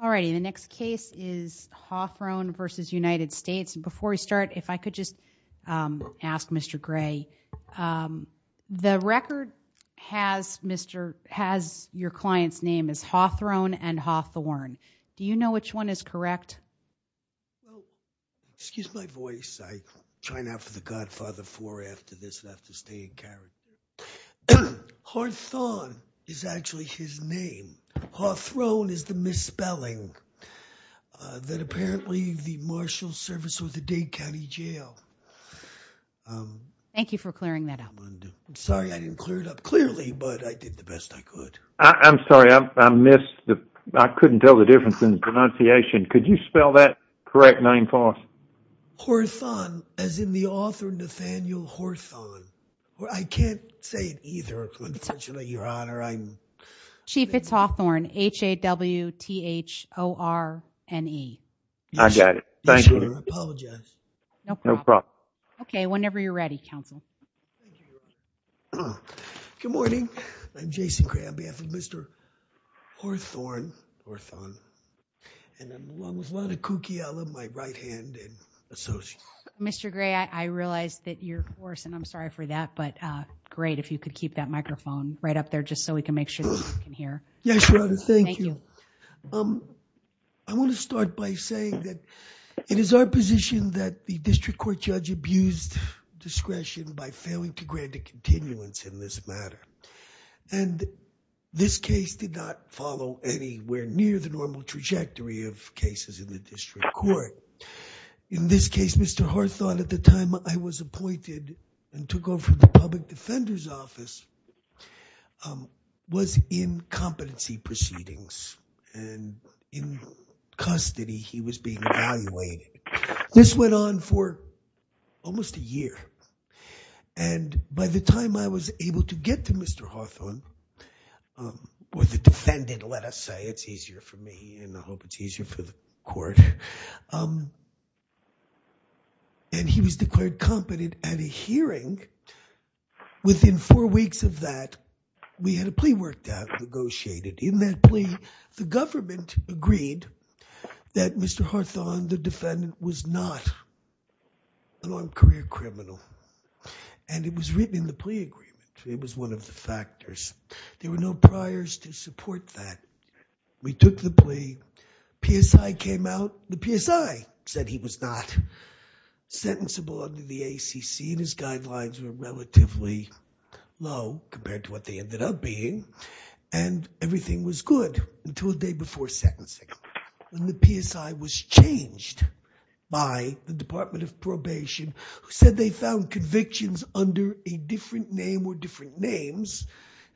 All righty, the next case is Hawthrone v. Johnathan Hawthrone. Before we start, if I could just ask Mr. Gray, the record has your client's name as Hawthrone and Hawthorne. Do you know which one is correct? Excuse my voice, I'm trying out for the Godfather IV after this and I have to stay in character. Hawthrone is actually his name. Hawthrone is the misspelling that apparently the marshal service with the Dade County Jail. Thank you for clearing that up. I'm sorry I didn't clear it up clearly, but I did the best I could. I'm sorry, I missed the, I couldn't tell the difference in pronunciation. Could you spell that correct name for us? Hawthorne, as in the author Nathaniel Hawthorne. I can't say it either. Your Honor, I'm Chief, it's Hawthorne, H-A-W-T-H-O-R-N-E. I got it. Thank you. I apologize. No problem. Okay, whenever you're ready, counsel. Good morning, I'm Jason Gray on behalf of Mr. Hawthorne and I'm along with a lot of Kukiela, my right hand and associate. Mr. Gray, I realize that you're worse and I'm sorry for that, but great if you could keep that microphone right up there just so we can make sure that we can hear. Yes, Your Honor, thank you. I want to start by saying that it is our position that the district court judge abused discretion by failing to grant a continuance in this matter and this case did not follow anywhere near the normal trajectory of cases in the district court. In this case, Mr. Hawthorne at the time I was appointed and took over the public defender's office was in competency proceedings and in custody he was being evaluated. This went on for almost a year and by the time I was able to get to Mr. Hawthorne, or the defendant, let us say, it's easier for me and I hope it's easier for the court, and he was declared competent at a hearing. Within four weeks of that, we had a plea worked out negotiated. In that plea, the government agreed that Mr. Hawthorne, the defendant, was not an armed career criminal and it was written in the plea agreement. It was one of the factors. There were no priors to support that. We took the plea. PSI came out. The PSI said he was not sentencible under the ACC and his guidelines were relatively low compared to what they ended up being and everything was good until a day before sentencing when the PSI was changed by the Department of Probation who said they found convictions under a different name or different names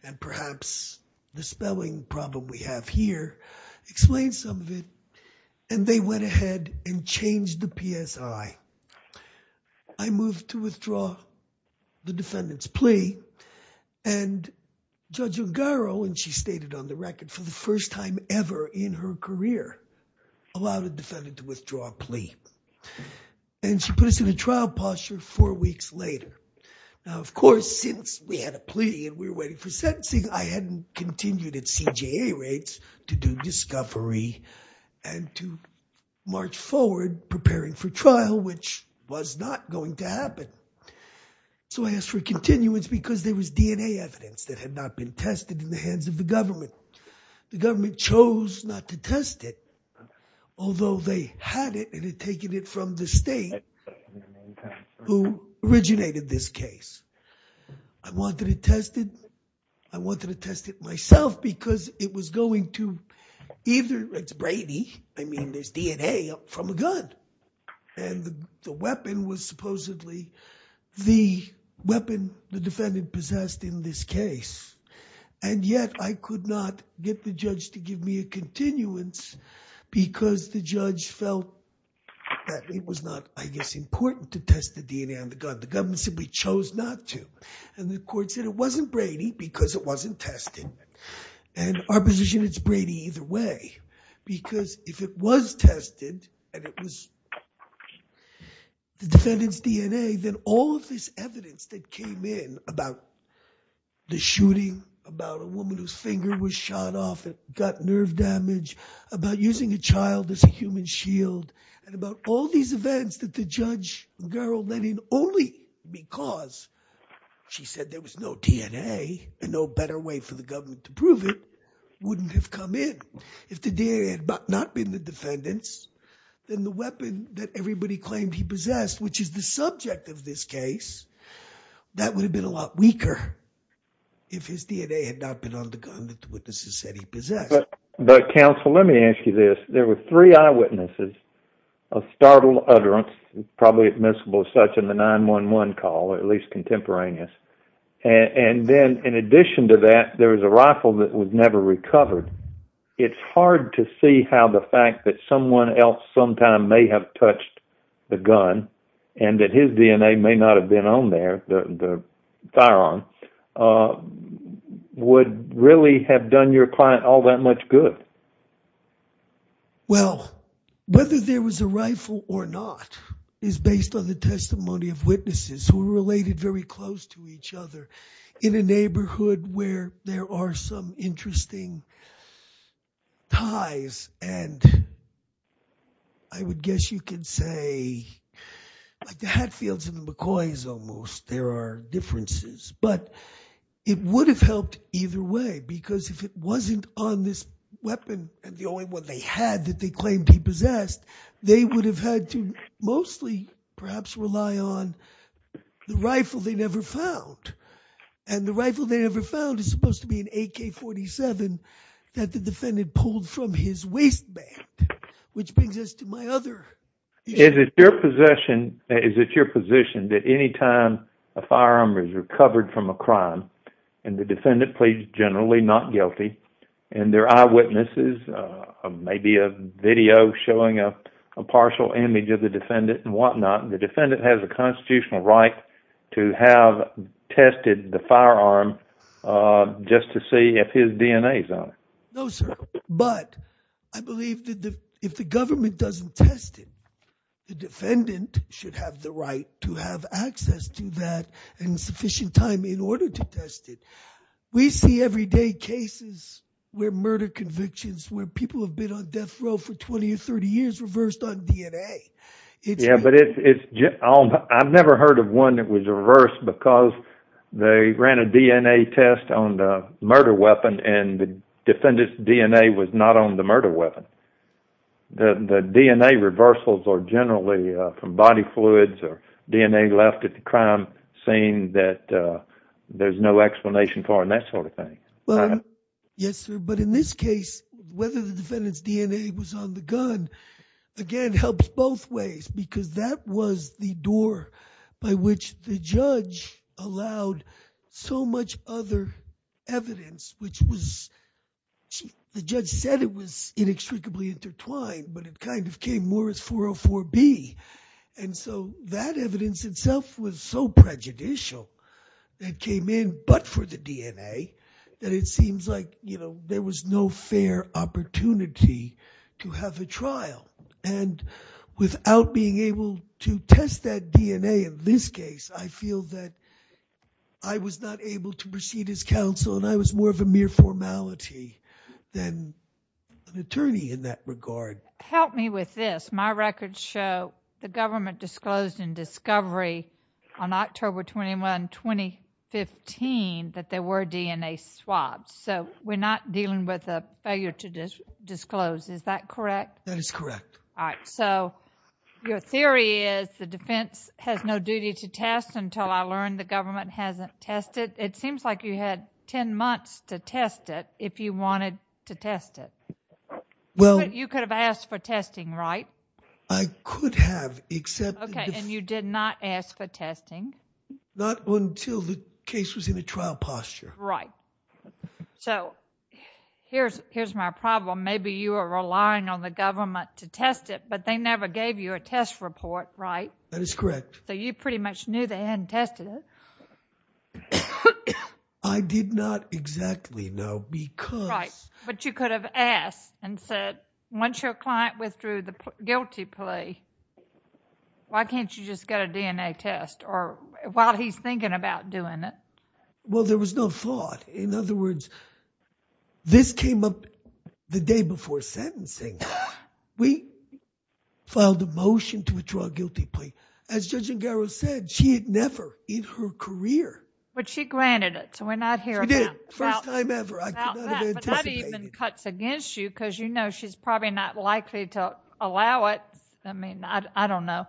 and perhaps the spelling problem we have here explains some of it and they went ahead and changed the PSI. I moved to withdraw the defendant's plea and Judge Ungaro, and she stated on the record, for the first time ever in her career allowed a defendant to withdraw a plea and she put us in a trial posture four weeks later. Now of course since we had a plea and we were waiting for sentencing, I hadn't continued at CJA rates to do discovery and to march forward preparing for trial which was not going to happen. So I asked for continuance because there was DNA evidence that had not been tested in the hands of the government. The government chose not to test it although they had it and had taken it from the state who originated this case. I wanted it tested. I wanted to test it myself because it was going to either, it's Brady, I mean there's DNA from a gun and the weapon was supposedly the weapon the defendant possessed in this case and yet I could not get the judge to give me a continuance because the judge felt that it was not I guess important to test the DNA on the gun. The government simply chose not to and the court said it wasn't Brady because it wasn't tested and our position is Brady either way because if it was about a woman whose finger was shot off and got nerve damage, about using a child as a human shield, and about all these events that the judge let in only because she said there was no DNA and no better way for the government to prove it wouldn't have come in. If the DNA had not been the defendant's then the weapon that everybody claimed he possessed which is the subject of this case, that would have been a lot weaker if his DNA had not been on the gun that the witnesses said he possessed. But counsel let me ask you this, there were three eyewitnesses of startled utterance probably admissible as such in the 911 call or at least contemporaneous and then in addition to that there was a rifle that was never recovered. It's hard to see how the fact that someone else sometime may have touched the gun and that his DNA may not have been on there, the firearm, would really have done your client all that much good. Well whether there was a rifle or not is based on the testimony of witnesses who related very close to each other in a neighborhood where there are some interesting ties and I would guess you could say like the Hatfields and the McCoys almost there are differences but it would have helped either way because if it wasn't on this weapon and the only one they had that they claimed he possessed they would have had to mostly perhaps rely on the rifle they never found and the rifle they never found is supposed to be an AK-47 that the defendant pulled from his waistband which brings us to my other. Is it your possession, is it your position that anytime a firearm is recovered from a crime and the defendant pleads generally not guilty and their eyewitnesses maybe a video showing a partial image of the defendant and whatnot the defendant has a constitutional right to have tested the firearm just to see if his DNA is on it? No sir but I believe that if the government doesn't test it the defendant should have the right to have access to that and sufficient time in order to test it. We see everyday cases where murder convictions where people have been on death row for 20 or 30 years reversed on DNA. Yeah but it's I've never heard of one that was reversed because they ran a DNA test on the defendant's DNA was not on the murder weapon. The DNA reversals are generally from body fluids or DNA left at the crime scene that there's no explanation for and that sort of thing. Yes sir but in this case whether the defendant's DNA was on the gun again helps both ways because that was the door by which the judge allowed so much other evidence which was the judge said it was inextricably intertwined but it kind of came more as 404b and so that evidence itself was so prejudicial that came in but for the DNA that it seems like you know there was no fair opportunity to have a trial and without being able to test that DNA in this case I feel that I was not able to proceed as counsel and I was more of a mere formality than an attorney in that regard. Help me with this my records show the government disclosed in discovery on October 21, 2015 that there were DNA swabs so we're not dealing with a failure to disclose is that correct? That is correct. All right so your theory is the defense has no duty to test until I learned the government hasn't tested it seems like you had 10 months to test it if you wanted to test it. Well you could have asked for testing right? I could have except. Okay and you did not ask for testing? Not until the case was in a trial posture. Right so here's my problem maybe you are relying on the government to test it but they never gave you a test report right? That is correct. So you pretty much knew they hadn't tested it? I did not exactly know because. Right but you could have asked and said once your client withdrew the guilty plea why can't you just get a DNA test or while he's thinking about doing it? Well there was no thought in other words this came up the day before sentencing. We filed a motion to withdraw a guilty plea as Judge Ngaro said she had never in her career. But she granted it so we're not here. She did it first time ever. I could not have anticipated. That even cuts against you because you know she's probably not likely to allow it. I mean I don't know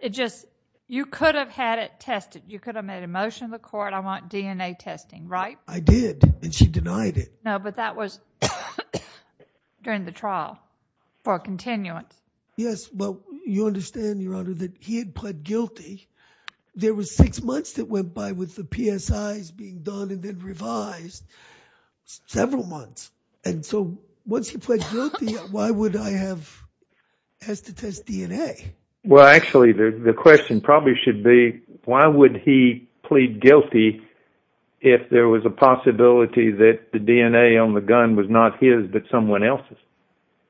it just you could have had tested you could have made a motion to the court I want DNA testing right? I did and she denied it. No but that was during the trial for a continuance. Yes well you understand your honor that he had pled guilty there was six months that went by with the PSIs being done and then revised several months and so once he pled guilty why would I have asked to test DNA? Well actually the question probably should be why would he plead guilty if there was a possibility that the DNA on the gun was not his but someone else's?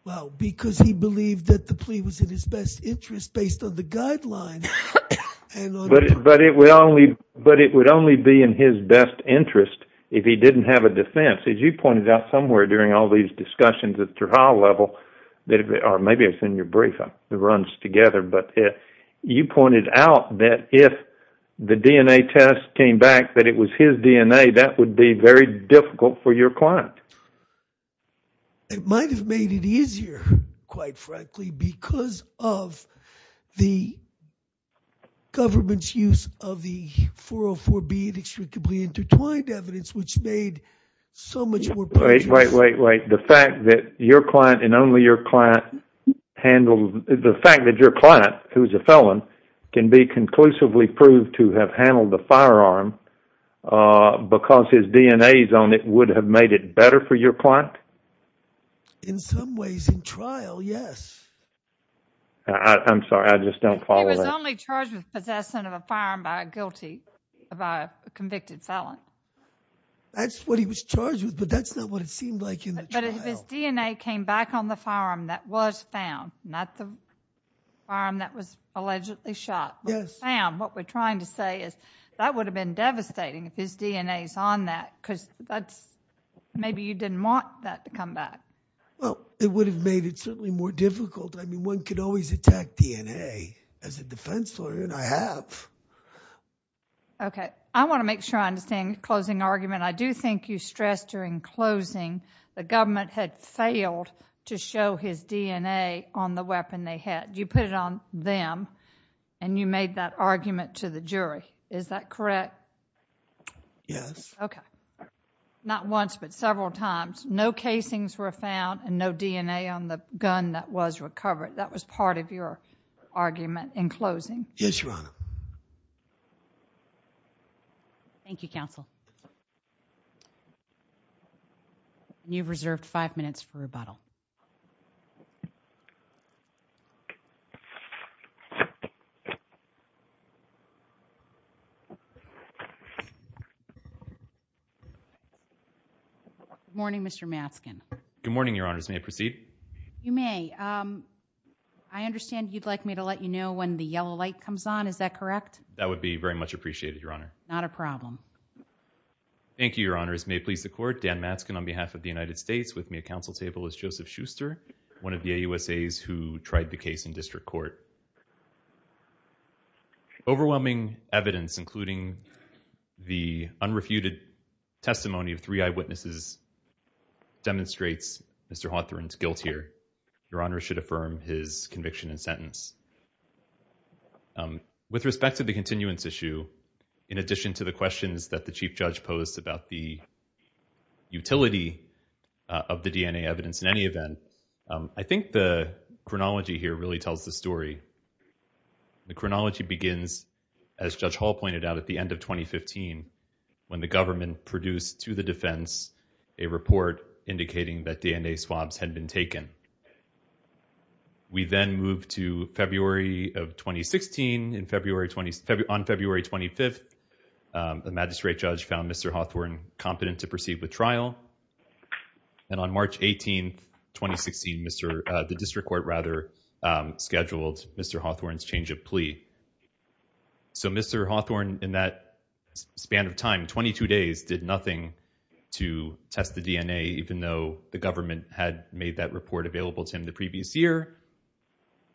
Well because he believed that the plea was in his best interest based on the guidelines. But it would only be in his best interest if he didn't have a defense as you pointed out somewhere during all these discussions at the trial level or maybe it's in your briefing it runs together but you pointed out that if the DNA test came back that it was his DNA that would be very difficult for your client. It might have made it easier quite frankly because of the government's use of the 404b inextricably intertwined evidence which made so much wait wait wait the fact that your client and only your client handled the fact that your client who's a felon can be conclusively proved to have handled the firearm uh because his DNA is on it would have made it better for your client? In some ways in trial yes. I'm sorry I just don't follow. He was only charged with possession of a firearm by a guilty of a convicted felon. That's what he was charged with but that's not what it seemed like in the trial. But if his DNA came back on the firearm that was found not the firearm that was allegedly shot yes found what we're trying to say is that would have been devastating if his DNA is on that because that's maybe you didn't want that to come back. Well it would have made it certainly more difficult I mean one could always attack DNA as a defense lawyer and I have. Okay I want to make sure I understand the closing argument I do think you stressed during closing the government had failed to show his DNA on the weapon they had you put it on them and you made that argument to the jury is that correct? Yes. Okay not once but several times no casings were found and no DNA on the that was part of your argument in closing. Yes your honor. Thank you counsel. You've reserved five minutes for rebuttal. Good morning Mr. Matzkin. Good morning your honors may I proceed? You may um I understand you'd like me to let you know when the yellow light comes on is that correct? That would be very much appreciated your honor. Not a problem. Thank you your honors may please the court Dan Matzkin on behalf of the United States with me at council table is Joseph Schuster one of the AUSAs who tried the case in district court. Overwhelming evidence including the unrefuted testimony of three eyewitnesses demonstrates Mr. Hawthorne's guilt here your honor should affirm his conviction and sentence. With respect to the continuance issue in addition to the questions that the chief judge posed about the utility of the DNA evidence in any event I think the chronology here really tells the story. The chronology begins as Judge Hall pointed out at the end of 2015 when the government produced to the defense a report indicating that DNA swabs had been taken. We then moved to February of 2016 in February 20 on February 25th the magistrate judge found Mr. Hawthorne competent to proceed with trial and on March 18 2016 Mr. the district court rather scheduled Mr. Hawthorne's change of plea. So Mr. Hawthorne in that span of time 22 days did nothing to test the DNA even though the government had made that report available to him the previous year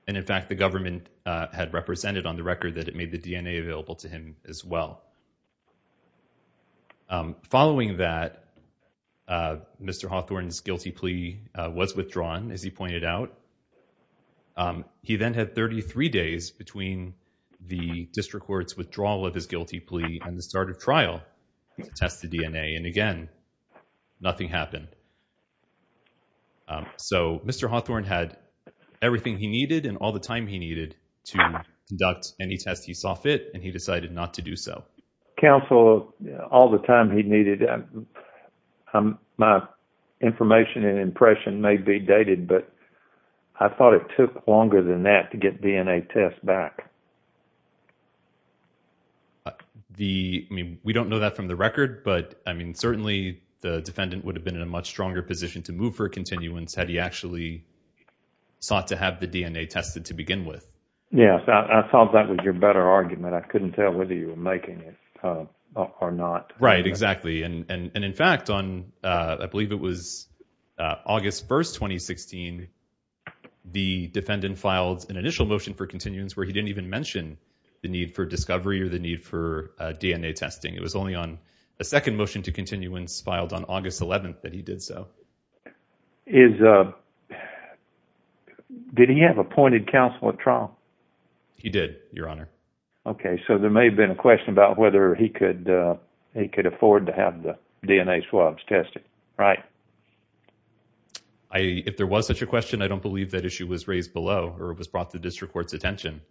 and in fact the government had represented on the record that it made the DNA available to him as well. Following that Mr. Hawthorne's guilty plea was withdrawn as he pointed out. He then had 33 days between the district court's withdrawal of his guilty plea and the start of trial to test the DNA and again nothing happened. So Mr. Hawthorne had everything he needed and all time he needed to conduct any test he saw fit and he decided not to do so. Counsel all the time he needed my information and impression may be dated but I thought it took longer than that to get DNA tests back. The I mean we don't know that from the record but I mean certainly the defendant would have been in a much stronger position to move for continuance had he actually sought to have the DNA tested to begin with. Yes I thought that was your better argument. I couldn't tell whether you were making it or not. Right exactly and in fact on I believe it was August 1st 2016 the defendant filed an initial motion for continuance where he didn't even mention the need for discovery or the need for DNA testing. It was only on a second motion to continuance filed on August 11th that he did so. Did he have appointed counsel at trial? He did your honor. Okay so there may have been a question about whether he could he could afford to have the DNA swabs tested right? I if there was such a question I don't believe that issue was raised below or it was brought to district court's attention.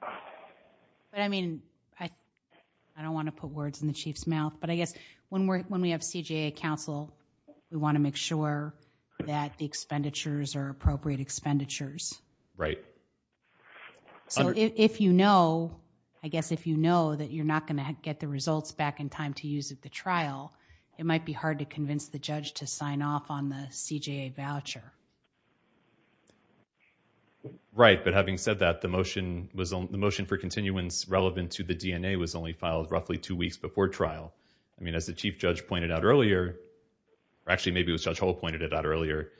But I mean I don't want to put words in the chief's mouth but I guess when we're when we have CJA counsel we want to make sure that the expenditures are appropriate expenditures. Right. So if you know I guess if you know that you're not going to get the results back in time to use at the trial it might be hard to convince the judge to sign off on the CJA voucher. Right but having said that the motion was the motion for continuance relevant to the DNA was only filed roughly two weeks before trial. I mean as the chief judge pointed out earlier or actually maybe it was Judge Hull pointed it out earlier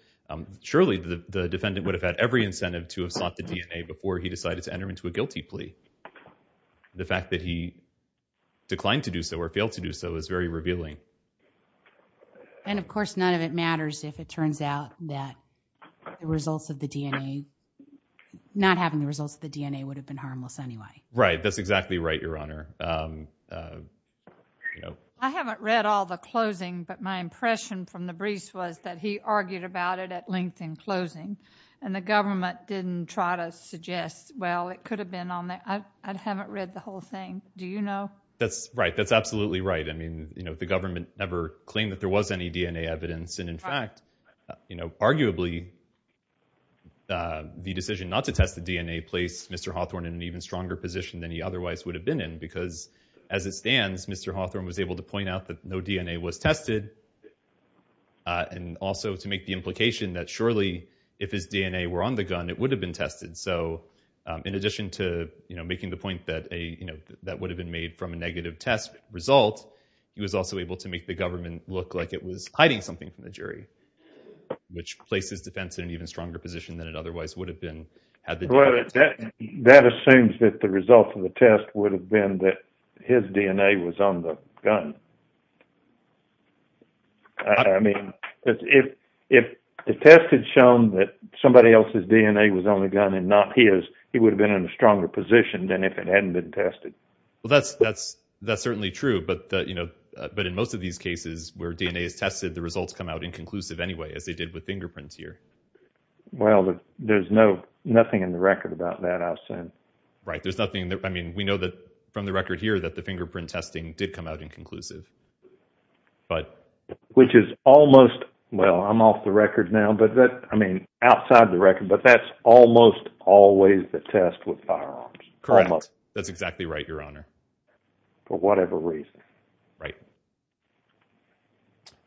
surely the defendant would have had every incentive to have sought the DNA before he decided to enter into a guilty plea. The fact that he declined to do so or failed to do so is very revealing. And of course none of it matters if it turns out that the results of the DNA not having the results of the DNA would have been harmless anyway. Right that's exactly right your honor. I haven't read all the closing but my impression from the briefs was that he argued about it at length in closing and the government didn't try to suggest well it could have been on there. I haven't read the whole thing do you know? That's right that's absolutely right I mean you know the government never claimed that there was any DNA evidence and in fact you know arguably the decision not to test the DNA placed Mr. Hawthorne in an even stronger position than he because as it stands Mr. Hawthorne was able to point out that no DNA was tested and also to make the implication that surely if his DNA were on the gun it would have been tested. So in addition to you know making the point that a you know that would have been made from a negative test result he was also able to make the government look like it was hiding something from the jury which places defense in an even stronger position than it otherwise would have been. Well that assumes that the result of the test would have been that his DNA was on the gun. I mean if the test had shown that somebody else's DNA was on the gun and not his he would have been in a stronger position than if it hadn't been tested. Well that's certainly true but you know but in most of these cases where DNA is tested the results come out inconclusive anyway as they with fingerprints here. Well there's no nothing in the record about that I've seen. Right there's nothing I mean we know that from the record here that the fingerprint testing did come out inconclusive. But which is almost well I'm off the record now but that I mean outside the record but that's almost always the test with firearms. Correct that's exactly right your honor. For whatever reason. Right.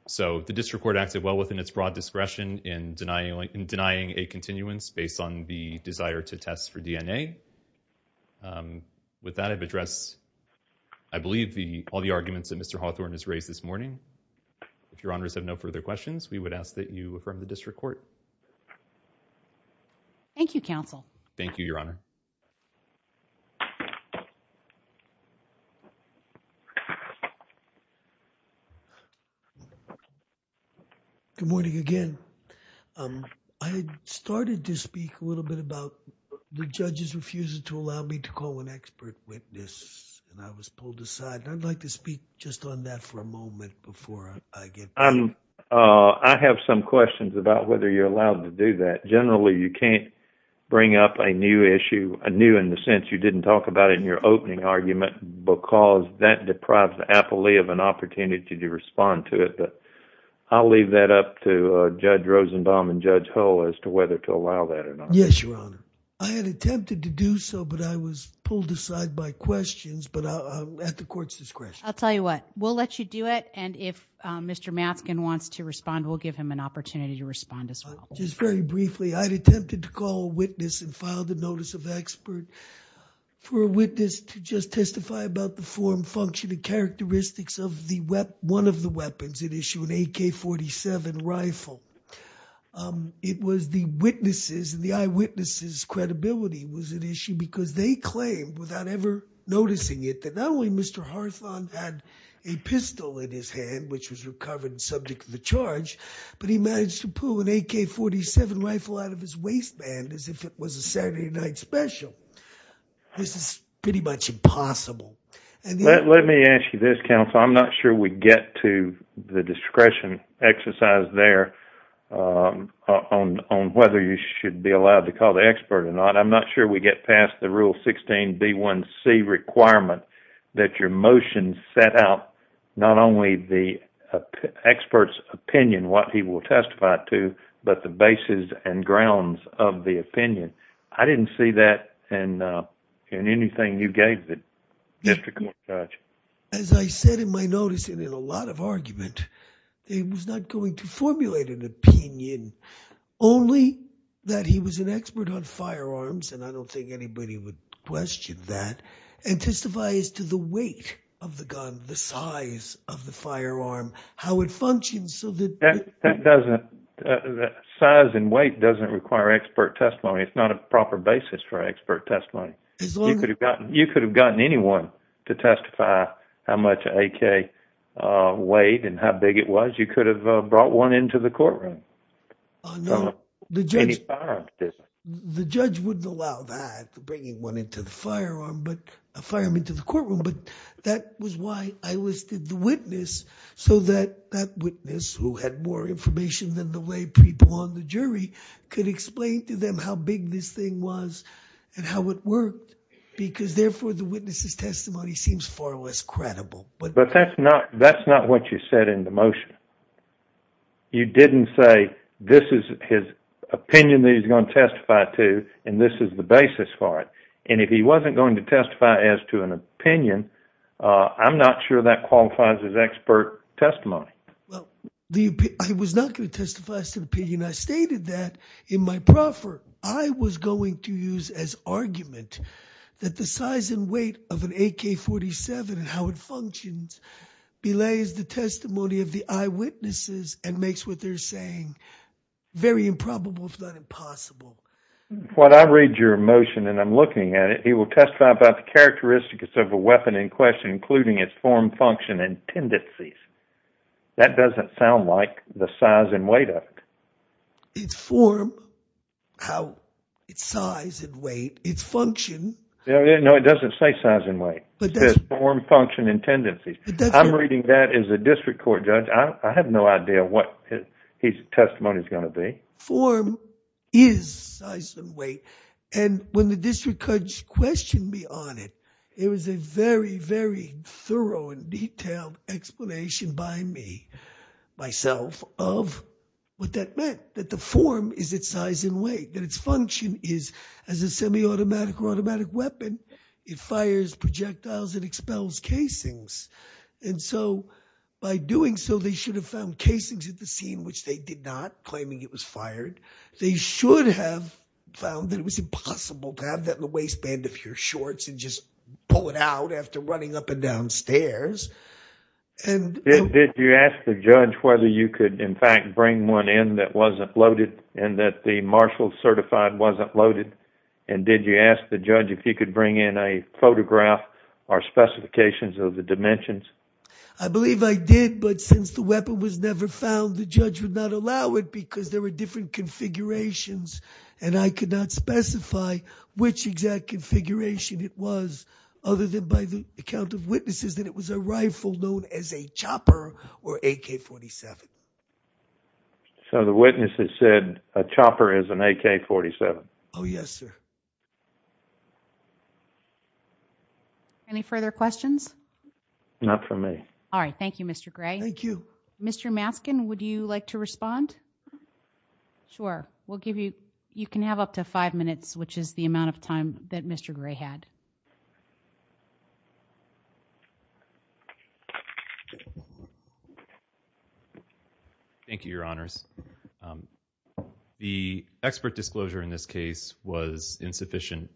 So the district court acted well within its broad discretion in denying in denying a continuance based on the desire to test for DNA. With that I've addressed I believe the all the arguments that Mr. Hawthorne has raised this morning. If your honors have no further questions we would ask that you affirm the district court. Thank you counsel. Thank you your honor. Good morning again. I started to speak a little bit about the judges refusing to allow me to call an expert witness and I was pulled aside. I'd like to speak just on that for a moment before I get. I'm I have some questions about whether you're allowed to do that. Generally you can't bring up a new issue a new in the sense you didn't talk about it in your opening argument. Because that deprives the appellee of an opportunity to respond to it but I'll leave that up to Judge Rosenbaum and Judge Hull as to whether to allow that or not. Yes your honor. I had attempted to do so but I was pulled aside by questions but at the court's discretion. I'll tell you what we'll let you do it and if Mr. Matzkin wants to respond we'll give him an opportunity to respond as well. Just very briefly I had attempted to call a witness and function and characteristics of the one of the weapons at issue an AK-47 rifle. It was the witnesses and the eyewitnesses credibility was an issue because they claimed without ever noticing it that not only Mr. Harthon had a pistol in his hand which was recovered and subject to the charge but he managed to pull an AK-47 rifle out of his waistband as if it was a special. This is pretty much impossible. Let me ask you this counsel. I'm not sure we get to the discretion exercise there on whether you should be allowed to call the expert or not. I'm not sure we get past the rule 16b1c requirement that your motion set out not only the I didn't see that in anything you gave the district court judge. As I said in my notice and in a lot of argument he was not going to formulate an opinion only that he was an expert on firearms and I don't think anybody would question that and testify as to the weight of the gun the size of the firearm how it functions so that that doesn't that size and expert testimony it's not a proper basis for expert testimony. You could have gotten anyone to testify how much AK weighed and how big it was you could have brought one into the courtroom. The judge wouldn't allow that bringing one into the firearm but a firearm into the courtroom but that was why I listed the witness so that that witness who had more information than the way people on the jury could explain to them how big this thing was and how it worked because therefore the witness's testimony seems far less credible. But that's not that's not what you said in the motion. You didn't say this is his opinion that he's going to testify to and this is the basis for it and if he wasn't going to testify as to an opinion I'm not sure that qualifies as expert testimony. Well the I was not going to testify to the opinion I stated that in my proffer I was going to use as argument that the size and weight of an AK-47 and how it functions belays the testimony of the eyewitnesses and makes what they're saying very improbable if not impossible. When I read your motion and I'm looking at it he will testify about the characteristics of a weapon in question including its form function and tendencies. That doesn't sound like the size and weight of it. It's form how it's size and weight it's function. No it doesn't say size and weight but there's form function and tendencies. I'm reading that as a district court judge I have no idea what his testimony is going to be. Form is size and weight and when the district court questioned me on it it was a very very thorough and detailed explanation by me myself of what that meant that the form is its size and weight that its function is as a semi-automatic or automatic weapon it fires projectiles and expels casings and so by doing so they should have found casings at the scene which they did not claiming it was fired. They should have found that it was impossible to have that in the waistband of your shorts and just pull it out after running up and down stairs. Did you ask the judge whether you could in fact bring one in that wasn't loaded and that the Marshall certified wasn't loaded and did you ask the judge if he could bring in a photograph or specifications of the dimensions? I believe I did but since the and I could not specify which exact configuration it was other than by the account of witnesses that it was a rifle known as a chopper or AK-47. So the witnesses said a chopper is an AK-47? Oh yes sir. Any further questions? Not from me. All right thank you Mr. Gray. Thank you. Mr. Maskin would you like to respond? Sure we'll give you you can have up to five minutes which is the amount of time that Mr. Gray had. Thank you your honors. The expert disclosure in this case was insufficient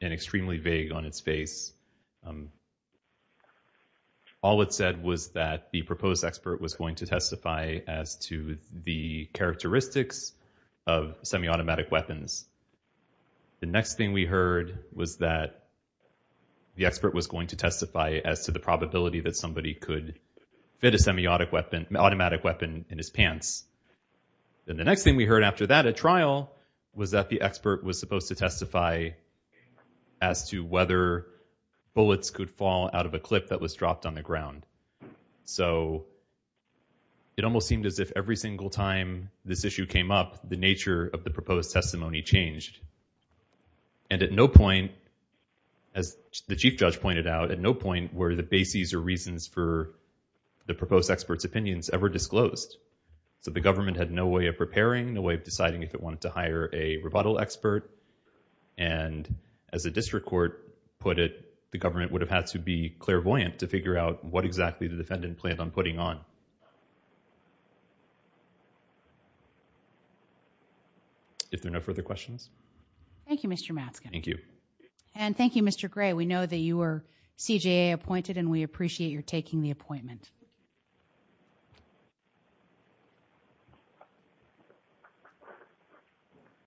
and extremely vague on its face. All it said was that the proposed expert was going to testify as to the characteristics of semi-automatic weapons. The next thing we heard was that the expert was going to testify as to the probability that somebody could fit a semi-automatic weapon in his pants. Then the next thing we heard after that at trial was that the expert was supposed to testify as to whether bullets could fall out of a clip that was dropped on the ground. So it almost seemed as if every single time this issue came up the nature of the proposed testimony changed and at no point as the chief judge pointed out at no point were the bases or reasons for the proposed experts opinions ever disclosed. So the government had no way of as a district court put it the government would have had to be clairvoyant to figure out what exactly the defendant planned on putting on. If there are no further questions. Thank you Mr. Maskin. Thank you. And thank you Mr. Gray. We that you were CJA appointed and we appreciate your taking the appointment.